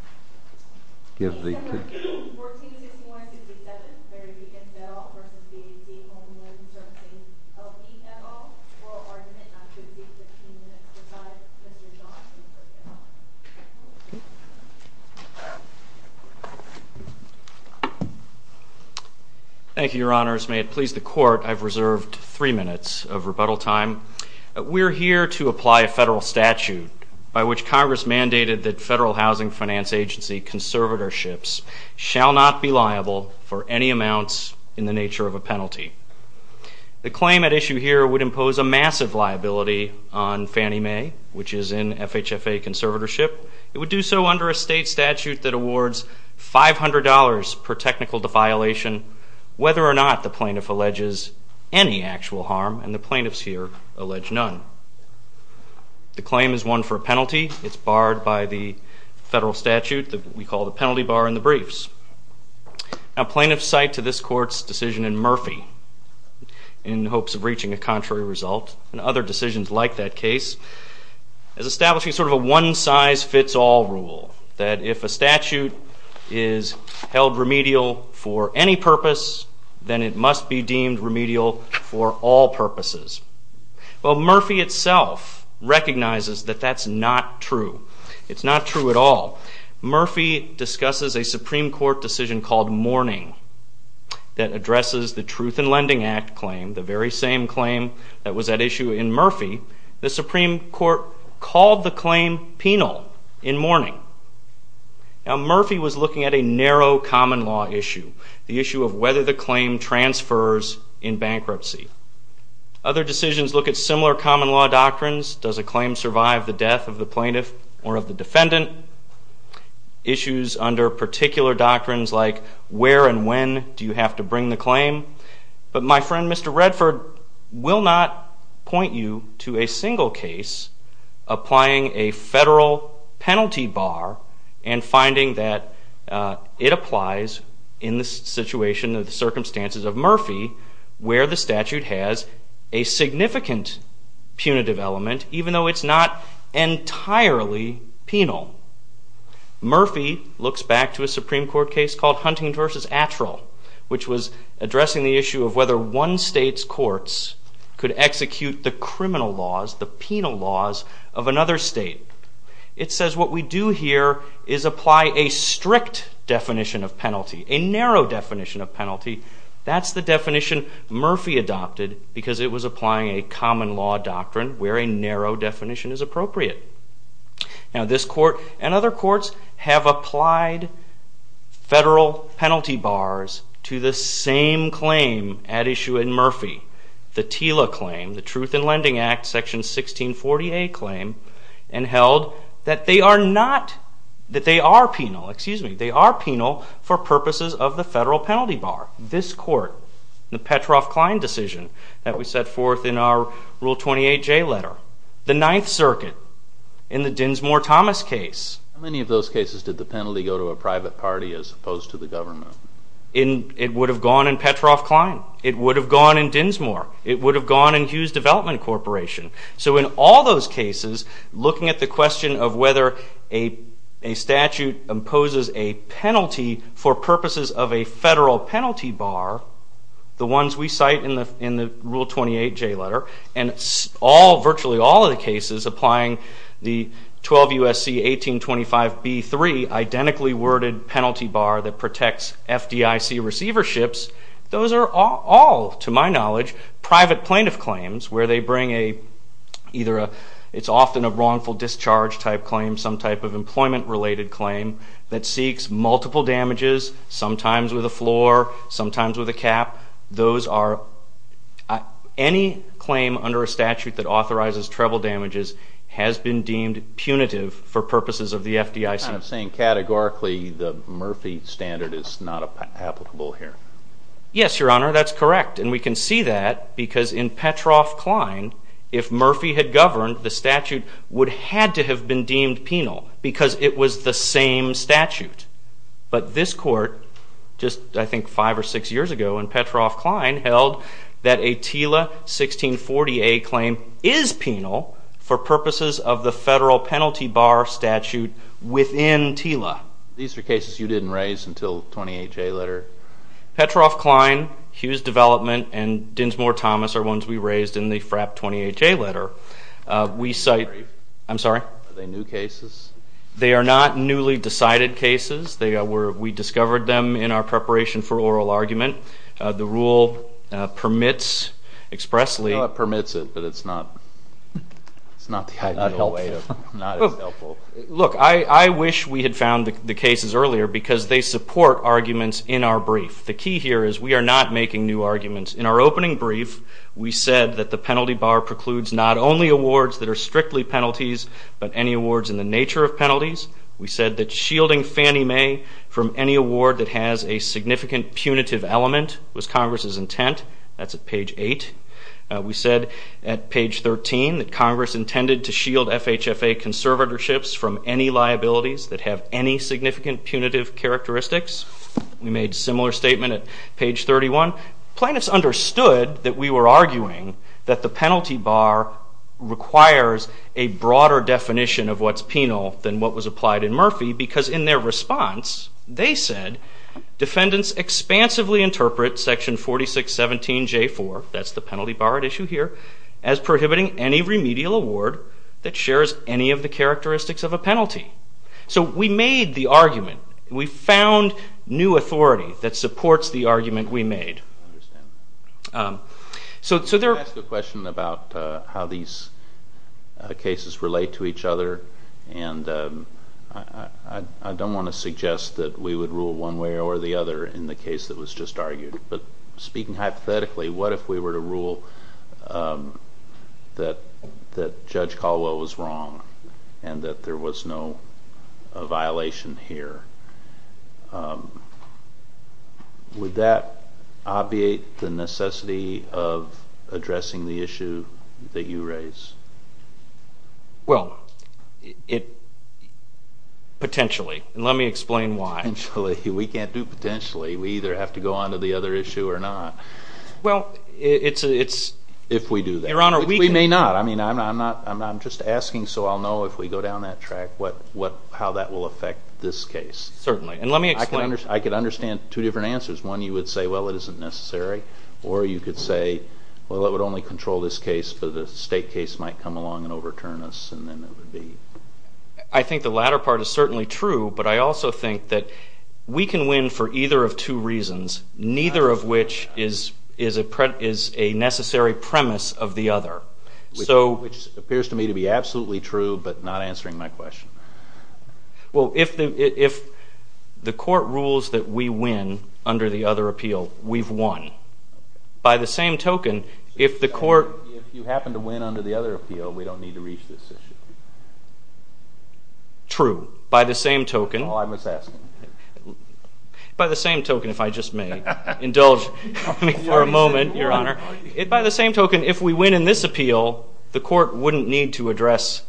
L.E.O. Oral Argument, not to exceed 15 minutes, provides Mr. Johnson with the time. Thank you, Your Honors. May it please the Court, I've reserved three minutes of rebuttal time. We're here to apply a federal statute by which Congress mandated that federal housing finance agency conservatorships shall not be liable for any amounts in the nature of a penalty. The claim at issue here would impose a massive liability on Fannie Mae, which is in FHFA conservatorship. It would do so under a state statute that awards $500 per technical defiolation, whether or not the plaintiff alleges any actual harm, and the plaintiffs here allege none. The claim is one for a penalty. It's barred by the federal statute that we call the penalty bar in the briefs. A plaintiff's site to this Court's decision in Murphy, in hopes of reaching a contrary result, and other decisions like that case, is establishing sort of a one-size-fits-all rule, that if a statute is held remedial for any purpose, then it must be deemed remedial for all purposes. Well, Murphy itself recognizes that that's not true. It's not true at all. Murphy discusses a Supreme Court decision called Mourning, that addresses the Truth in Lending Act claim, the very same claim that was at issue in Murphy. The Supreme Court called the claim penal in Mourning. Now Murphy was looking at a narrow common law issue, the issue of whether the claim transfers in bankruptcy. Other decisions look at similar common law doctrines. Does a claim survive the death of the plaintiff or of the defendant? Issues under particular doctrines like where and when do you have to bring the claim? But my friend Mr. Redford will not point you to a single case applying a federal penalty bar, and finding that it applies in the situation of the circumstances of Murphy, where the statute has a significant punitive element, even though it's not entirely penal. Murphy looks back to a Supreme Court case called Huntington v. Attrell, which was addressing the issue of whether one state's courts could execute the criminal laws, the penal laws, of another state. It says what we do here is apply a strict definition of penalty, a narrow definition of penalty. That's the definition Murphy adopted because it was applying a common law doctrine where a narrow definition is appropriate. Now this court and other courts have applied federal penalty bars to the same claim at issue in Murphy, the TILA claim, the Truth in Lending Act, Section 1648 claim, and held that they are not, that they are penal, excuse me, they are penal for purposes of the federal penalty bar. This court, the Petroff-Klein decision that we set forth in our Rule 28J letter. The Ninth Circuit in the Dinsmore-Thomas case. How many of those cases did the penalty go to a private party as opposed to the government? It would have gone in Petroff-Klein. It would have gone in Dinsmore. It would have gone in Hughes Development Corporation. So in all those cases, looking at the question of whether a statute imposes a penalty for purposes of a federal penalty bar, the ones we cite in the Rule 28J letter, and all, virtually all of the cases applying the 12 U.S.C. 1825b3 identically worded penalty bar that protects FDIC receiverships, those are all, to my knowledge, private plaintiff claims where they bring either a, it's often a wrongful discharge type claim, some type of employment related claim that seeks multiple damages, sometimes with a floor, sometimes with a cap. Those are, any claim under a statute that authorizes treble damages has been deemed punitive for purposes of the FDIC. You're kind of saying categorically the Murphy standard is not applicable here. Yes, Your Honor, that's correct. And we can see that because in Petroff-Klein, if Murphy had governed, the statute would have had to have been deemed penal because it was the same statute. But this Court, just I think five or six years ago in Petroff-Klein, held that a TILA 1640a claim is penal for purposes of the federal penalty bar statute within TILA. These are cases you didn't raise until the 28-J letter? Petroff-Klein, Hughes Development, and Dinsmore-Thomas are ones we raised in the FRAP 28-J letter. We cite, I'm sorry? Are they new cases? They are not newly decided cases. We discovered them in our preparation for oral argument. The rule permits expressly, I know it permits it, but it's not helpful. Look, I wish we had found the cases earlier because they support arguments in our brief. The key here is we are not making new arguments. In our opening brief, we said that the penalty bar precludes not only awards that are strictly penalties, but any awards in the nature of penalties. We said that shielding Fannie Mae from any award that has a significant punitive element was Congress's intent. That's at page 8. We said at page 13 that Congress intended to shield FHFA conservatorships from any liabilities that have any significant punitive characteristics. We made a similar statement at page 31. Plaintiffs understood that we were arguing that the penalty bar requires a broader definition of what's penal than what was applied in Murphy because in their response, they said, defendants expansively interpret section 4617J4, that's the penalty bar at issue here, as prohibiting any remedial award that shares any of the characteristics of a penalty. So we made the argument. We found new authority that supports the argument we made. I understand. So there... Can I ask a question about how these cases relate to each other? And I don't want to be mis-argued, but speaking hypothetically, what if we were to rule that Judge Caldwell was wrong and that there was no violation here? Would that obviate the necessity of addressing the issue that you raise? Well, it...potentially. And let me explain why. Potentially. We can't do potentially. We either have to go on to the other issue or not. Well, it's... If we do that. Your Honor, we can... We may not. I mean, I'm just asking so I'll know if we go down that track how that will affect this case. Certainly. And let me explain... I could understand two different answers. One, you would say, well, it isn't necessary. Or you could say, well, it would only control this case, but the state case might come along and overturn us, and then it would be... I think the latter part is certainly true, but I also think that we can win for either of two reasons, neither of which is a necessary premise of the other. Which appears to me to be absolutely true, but not answering my question. Well, if the court rules that we win under the other appeal, we've won. By the same token, if the court... Under the other appeal, we don't need to reach this issue. True. By the same token... Oh, I must ask... By the same token, if I just may indulge for a moment, Your Honor, by the same token, if we win in this appeal, the court wouldn't need to address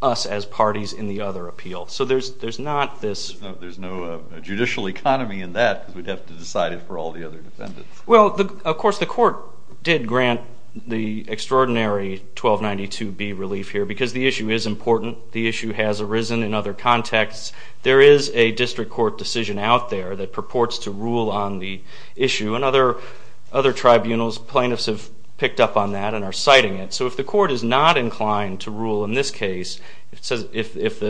us as parties in the other appeal. So there's not this... There's no judicial economy in that because we'd have to decide it for all the other defendants. Well, of course, the court did grant the extraordinary 1292B relief here because the issue is important. The issue has arisen in other contexts. There is a district court decision out there that purports to rule on the issue, and other tribunals, plaintiffs have picked up on that and are citing it. So if the court is not inclined to rule in this case, if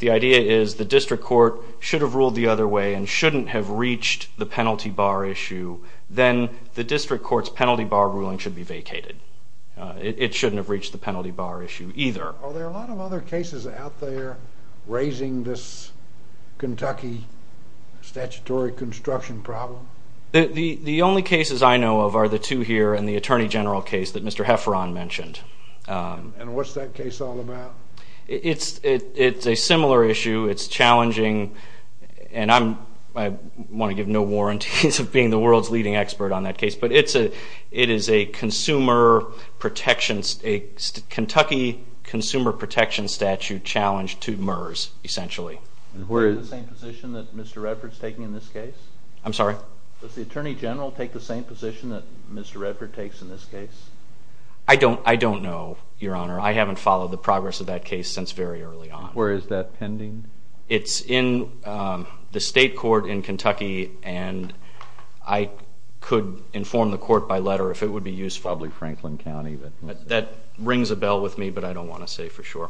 the idea is the district court should have ruled the other way and shouldn't have reached the penalty bar issue, then the district court's penalty bar ruling should be vacated. It shouldn't have reached the penalty bar issue either. Are there a lot of other cases out there raising this Kentucky statutory construction problem? The only cases I know of are the two here and the Attorney General case that Mr. Hefferon mentioned. And what's that case all about? It's a similar issue. It's challenging, and I want to give no warranties of being the world's leading expert on that case, but it is a Kentucky consumer protection statute challenge to MERS essentially. Is it the same position that Mr. Redford's taking in this case? I'm sorry? Does the Attorney General take the same position that Mr. Redford takes in this case? I don't know, Your Honor. I haven't followed the progress of that case since very early on. Where is that pending? It's in the state court in Kentucky, and I could inform the court by letter if it would be useful. Probably Franklin County. That rings a bell with me, but I don't want to say for sure.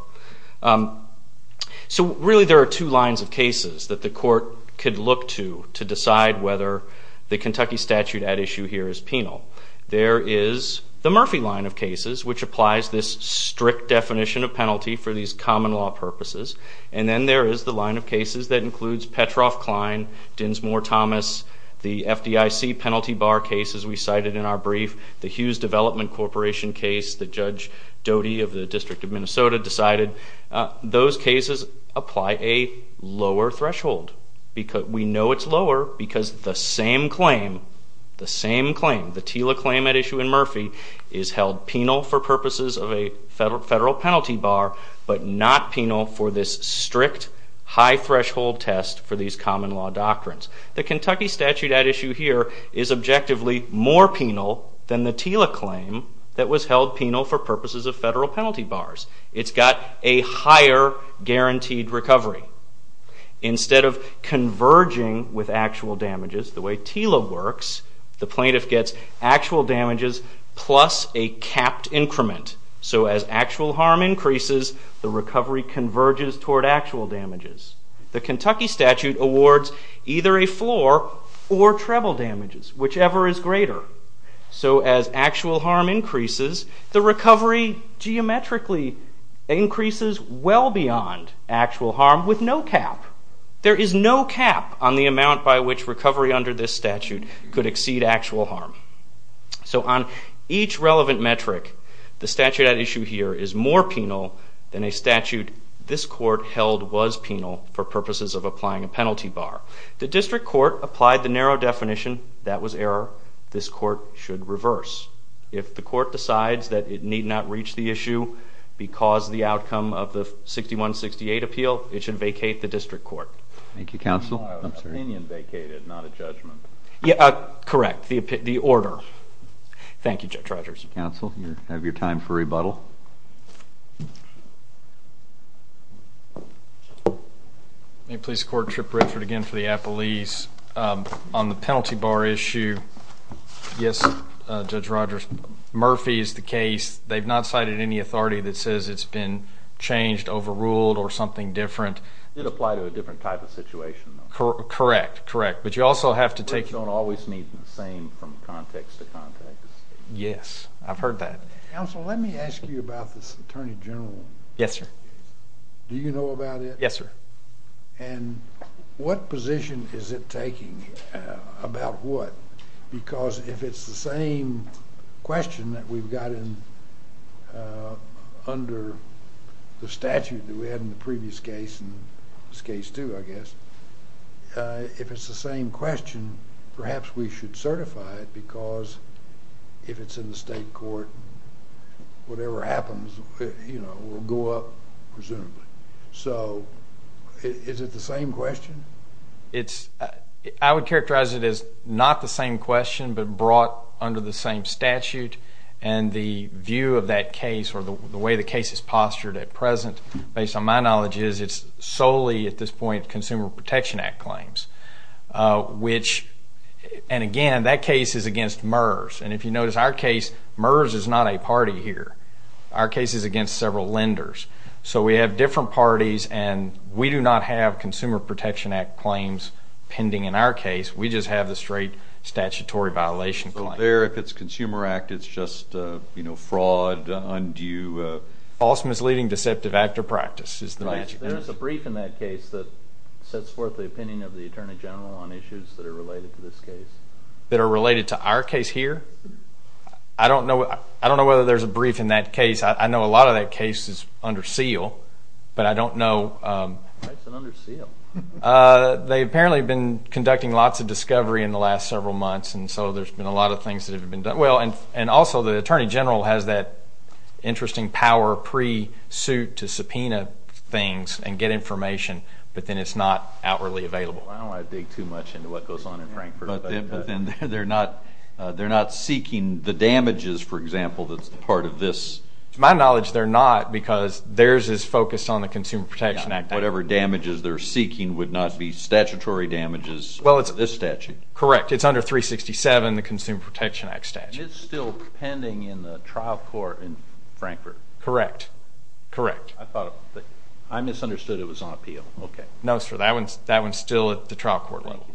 So really there are two lines of cases that the court could look to to decide whether the Kentucky statute at issue here is penal. There is the Murphy line of cases, which applies this strict definition of penalty for these common law purposes. And then there is the line of cases that includes Petroff-Klein, Dinsmore-Thomas, the FDIC penalty bar cases we cited in our brief, the Hughes Development Corporation case that Judge Doty of the District of Minnesota decided. Those cases apply a lower threshold. We know it's lower because the same claim, the same claim, the TILA claim at issue in Murphy is held penal for purposes of a federal penalty bar, but not penal for this strict high threshold test for these common law doctrines. The Kentucky statute at issue here is objectively more penal than the TILA claim that was held penal for purposes of federal penalty bars. It's got a higher guaranteed recovery. Instead of converging with actual damages, the way TILA works, the plaintiff gets actual damages plus a capped increment. So as actual harm increases, the recovery converges toward actual damages. The Kentucky statute awards either a floor or treble damages, whichever is greater. So as actual harm increases, the recovery geometrically increases well beyond actual harm with no cap. There is no cap on the amount by which recovery under this statute could exceed actual harm. So on each relevant metric, the statute at issue here is more penal than a statute this court held was penal for purposes of applying a penalty bar. The district court applied the narrow definition that was error. This court should reverse. If the court decides that it need not reach the issue because the outcome of the 6168 appeal, it should vacate the district court. Thank you, counsel. I'm sorry. Opinion vacated, not a judgment. Correct. The order. Thank you, Judge Rogers. Counsel, you have your time for rebuttal. May it please the court, Trip Richard again for the appellees. On the penalty bar issue, yes, Judge Rogers, Murphy is the case. They've not cited any authority that says it's been changed, overruled, or something different. It applied to a different type of situation. Correct. But you also have to take... Words don't always mean the same from context to context. Yes. I've heard that. Counsel, let me ask you about this Attorney General. Yes, sir. Do you know about it? Yes, sir. And what position is it taking about what? Because if it's the same question that we've got under the statute that we had in the previous case and this case too, I guess, if it's the same question, perhaps we should certify it because if it's in the state court, whatever happens will go up, presumably. So is it the same question? I would characterize it as not the same question but brought under the same statute and the view of that case or the way the case is postured at present, based on my knowledge, is it's solely, at this point, Consumer Protection Act claims, which, and again, that case is against MERS. And if you notice our case, MERS is not a party here. Our case is against several lenders. So we have different parties and we do not have Consumer Protection Act claims pending in our case. We just have the straight statutory violation claim. So there, if it's Consumer Act, it's just fraud, undue... False, misleading, deceptive act or practice is the magic word. There is a brief in that case that sets forth the opinion of the Attorney General on issues that are related to this case. That are related to our case here? I don't know whether there's a brief in that case. I know a lot of that case is under seal, but I don't know... Why is it under seal? They apparently have been conducting lots of discovery in the last several months and so there's been a lot of things that have been done. And also, the Attorney General has that interesting power pre-suit to subpoena things and get information but then it's not outwardly available. I don't want to dig too much into what goes on in Frankfurt but then they're not seeking the damages, for example, that's part of this... To my knowledge, they're not because theirs is focused on the Consumer Protection Act. Whatever damages they're seeking would not be statutory damages under this statute? Correct. It's under 367, the Consumer Protection Act statute. It's still pending in the trial court in Frankfurt? Correct. Correct. I thought... I misunderstood it was on appeal. Okay. No, sir. That one's still at the trial court level.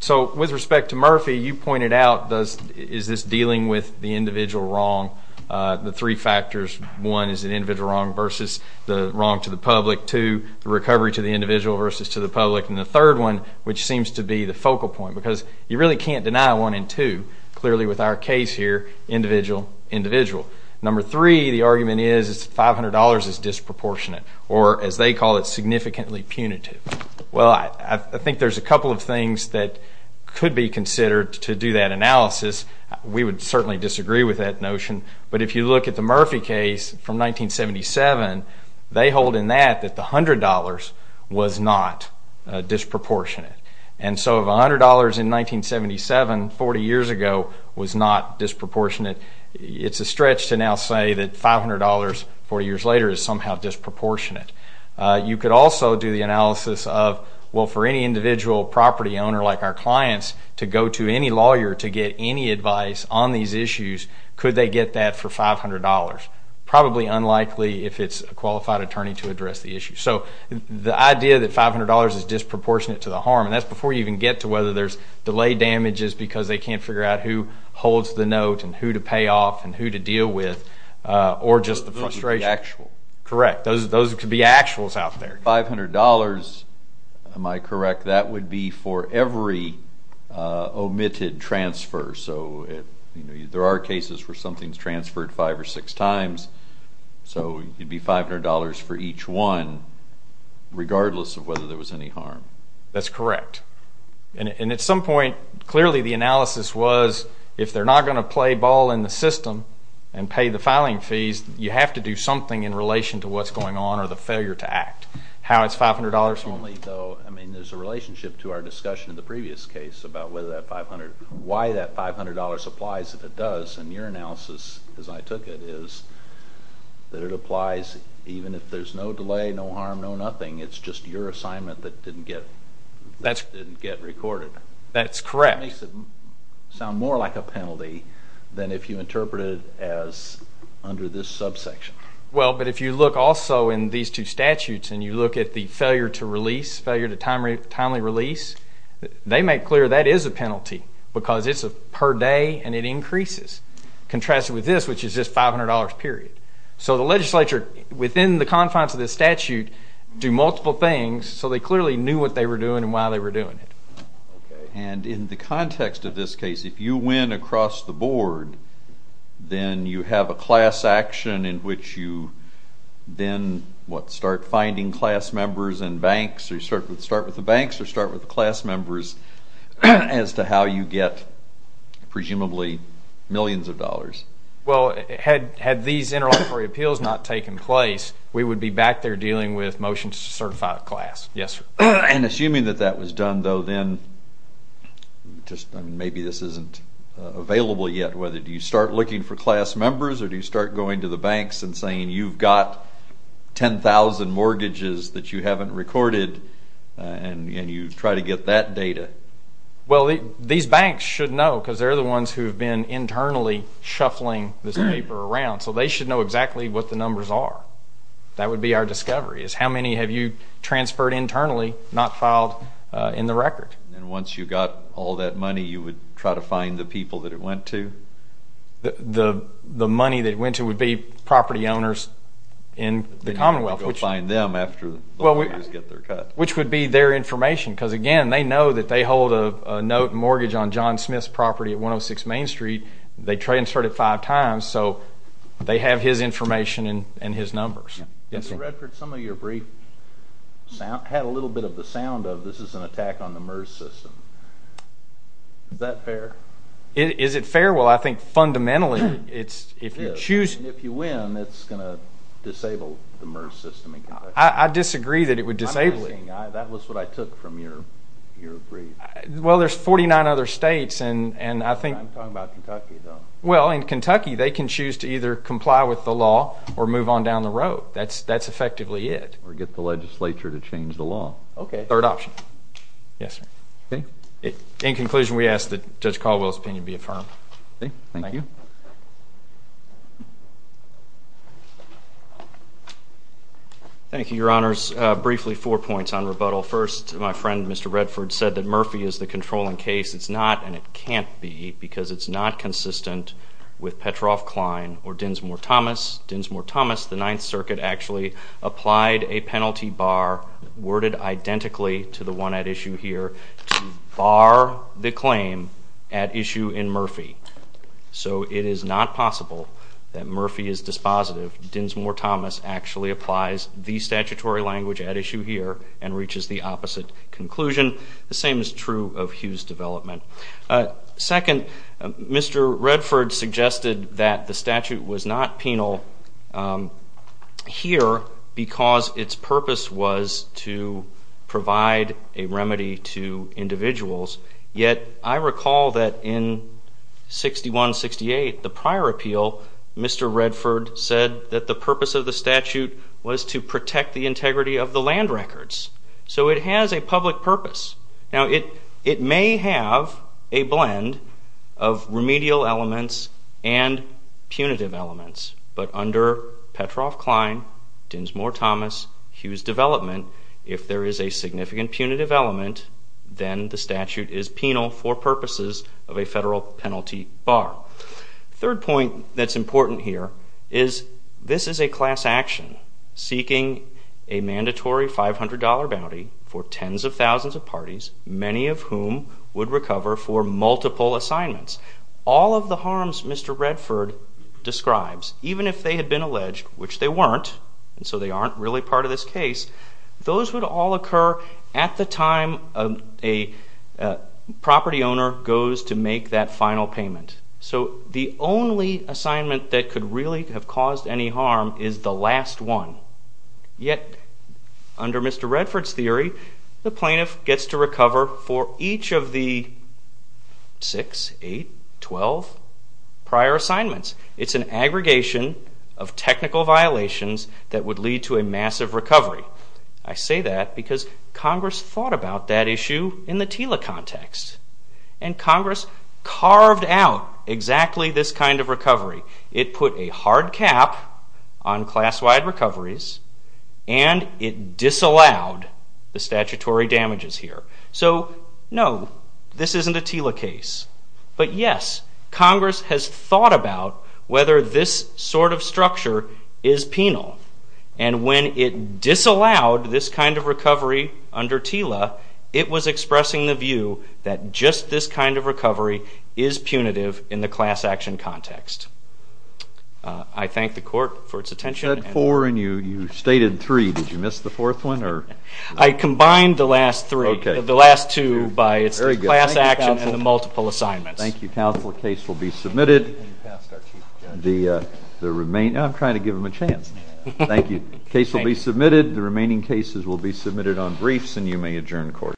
So, with respect to Murphy, you pointed out, is this dealing with the individual wrong? The three factors, one, is it individual wrong versus the wrong to the public? Two, the recovery to the individual versus to the public? And the third one, which seems to be the focal point because you really can't deny one and two, clearly with our case here, individual, individual. Number three, the argument is $500 is disproportionate or as they call it, significantly punitive. Well, I think there's a couple of things that could be considered to do that analysis. We would certainly disagree with that notion. But if you look at the Murphy case from 1977, they hold in that that the $100 was not disproportionate. And so if $100 in 1977, 40 years ago, was not disproportionate, it's a stretch to now say that $500 40 years later is somehow disproportionate. You could also do the analysis of, well, for any individual property owner like our clients to go to any lawyer to get any advice on these issues, could they get that for $500? Probably unlikely if it's a qualified attorney to address the issue. So the idea that $500 is disproportionate to the harm, and that's before you even get to whether there's delay damages because they can't figure out who holds the note and who to pay off and who to deal with, or just the frustration. Those would be actual. Correct. Those could be actuals out there. $500, am I correct, that would be for every omitted transfer. So there are cases where something's transferred five or six times. So it'd be $500 for each one, regardless of whether there was any harm. That's correct. And at some point, clearly the analysis was, if they're not going to play ball in the system and pay the filing fees, you have to do something in relation to what's going on or the failure to act. How it's $500? Only though, I mean, there's a relationship to our discussion in the previous case about why that $500 applies if it does, and your analysis, as I took it, is that it applies even if there's no delay, no harm, no nothing. It's just your assignment that didn't get recorded. That's correct. That makes it sound more like a penalty than if you interpret it as under this subsection. Well, but if you look also in these two statutes and you look at the failure to release, failure to timely release, they make clear that is a penalty because it's per day and it increases. Contrast it with this, which is just $500 period. So the legislature, within the confines of this statute, do multiple things, so they clearly knew what they were doing and why they were doing it. And in the context of this case, if you win across the board, then you have a class action in which you then, what, start finding class members and banks, or start with the banks or start with the class members as to how you get presumably millions of dollars. Well, had these interlocutory appeals not taken place, we would be back there dealing with motions to certify a class. Yes, sir. And assuming that that was done, though, then just maybe this isn't available yet, whether do you start looking for class members or do you start going to the banks and saying you've got 10,000 mortgages that you haven't recorded and you try to get that data? Well, these banks should know because they're the ones who've been internally shuffling this paper around, so they should know exactly what the numbers are. That would be our discovery, is how many have you transferred internally, not filed in the record? And once you got all that money, you would try to find the people that it went to? The money that it went to would be property owners in the Commonwealth. Then you'd have to go find them after the lawyers get their cut. Which would be their information, because again, they know that they hold a note mortgage on John Smith's property at 106 Main Street. They transferred it five times, so they have his information and his numbers. Mr. Redford, some of your briefs had a little bit of the sound of this is an attack on the MERS system. Is that fair? Is it fair? Well, I think fundamentally, it's if you choose. And if you win, it's going to disable the MERS system in Kentucky. I disagree that it would disable it. That was what I took from your brief. Well, there's 49 other states, and I think in Kentucky, they can choose to either comply with the law or move on down the road. That's effectively it. Or get the legislature to change the law. Third option. Yes, sir. In conclusion, we ask that Judge Caldwell's opinion be affirmed. Thank you, Your Honors. Briefly, four points on rebuttal. First, my friend, Mr. Redford, said that Murphy is the controlling case. It's not, and it can't be, because it's not consistent with Petroff-Klein or Dinsmore-Thomas. Dinsmore-Thomas, the Ninth Circuit, actually applied a penalty bar, worded identically to the one at issue here, to bar the claim at issue in Murphy. So it is not possible that Murphy is dispositive. Dinsmore-Thomas actually applies the statutory language at issue here and reaches the opposite conclusion. The same is true of Hughes' development. Second, Mr. Redford suggested that the statute was not penal here because its purpose was to provide a remedy to individuals, yet I recall that in 6168, the prior appeal, Mr. Redford said that the purpose of the statute was to protect the integrity of the land records. So it has a public purpose. Now it may have a blend of remedial elements and punitive elements, but under Petroff-Klein, Dinsmore-Thomas, Hughes' development, if there is a significant punitive element, then the statute is penal for purposes of a federal penalty bar. Third point that's important here is this is a class action seeking a mandatory $500 bounty for tens of thousands of parties, many of whom would recover for multiple assignments. All of the harms Mr. Redford describes, even if they had been alleged, which they weren't, so they aren't really part of this case, those would all occur at the time a property owner goes to make that final payment. So the only assignment that could really have caused any harm is the last one, yet under Mr. Redford's theory, the plaintiff gets to recover for each of the 6, 8, 12 prior assignments. It's an aggregation of technical violations that would lead to a massive recovery. I say that because Congress thought about that issue in the TILA context and Congress carved out exactly this kind of recovery. It put a hard cap on class-wide recoveries and it disallowed the statutory damages here. So no, this isn't a TILA case, but yes, Congress has thought about whether this sort of structure is penal. And when it disallowed this kind of recovery under TILA, it was expressing the view that just this kind of recovery is punitive in the class action context. I thank the Court for its attention. You said four and you stated three, did you miss the fourth one? I combined the last three, the last two by class action and the multiple assignments. Thank you counsel, the case will be submitted. The remaining, I'm trying to give him a chance. Thank you. The case will be submitted, the remaining cases will be submitted on briefs and you may adjourn the Court.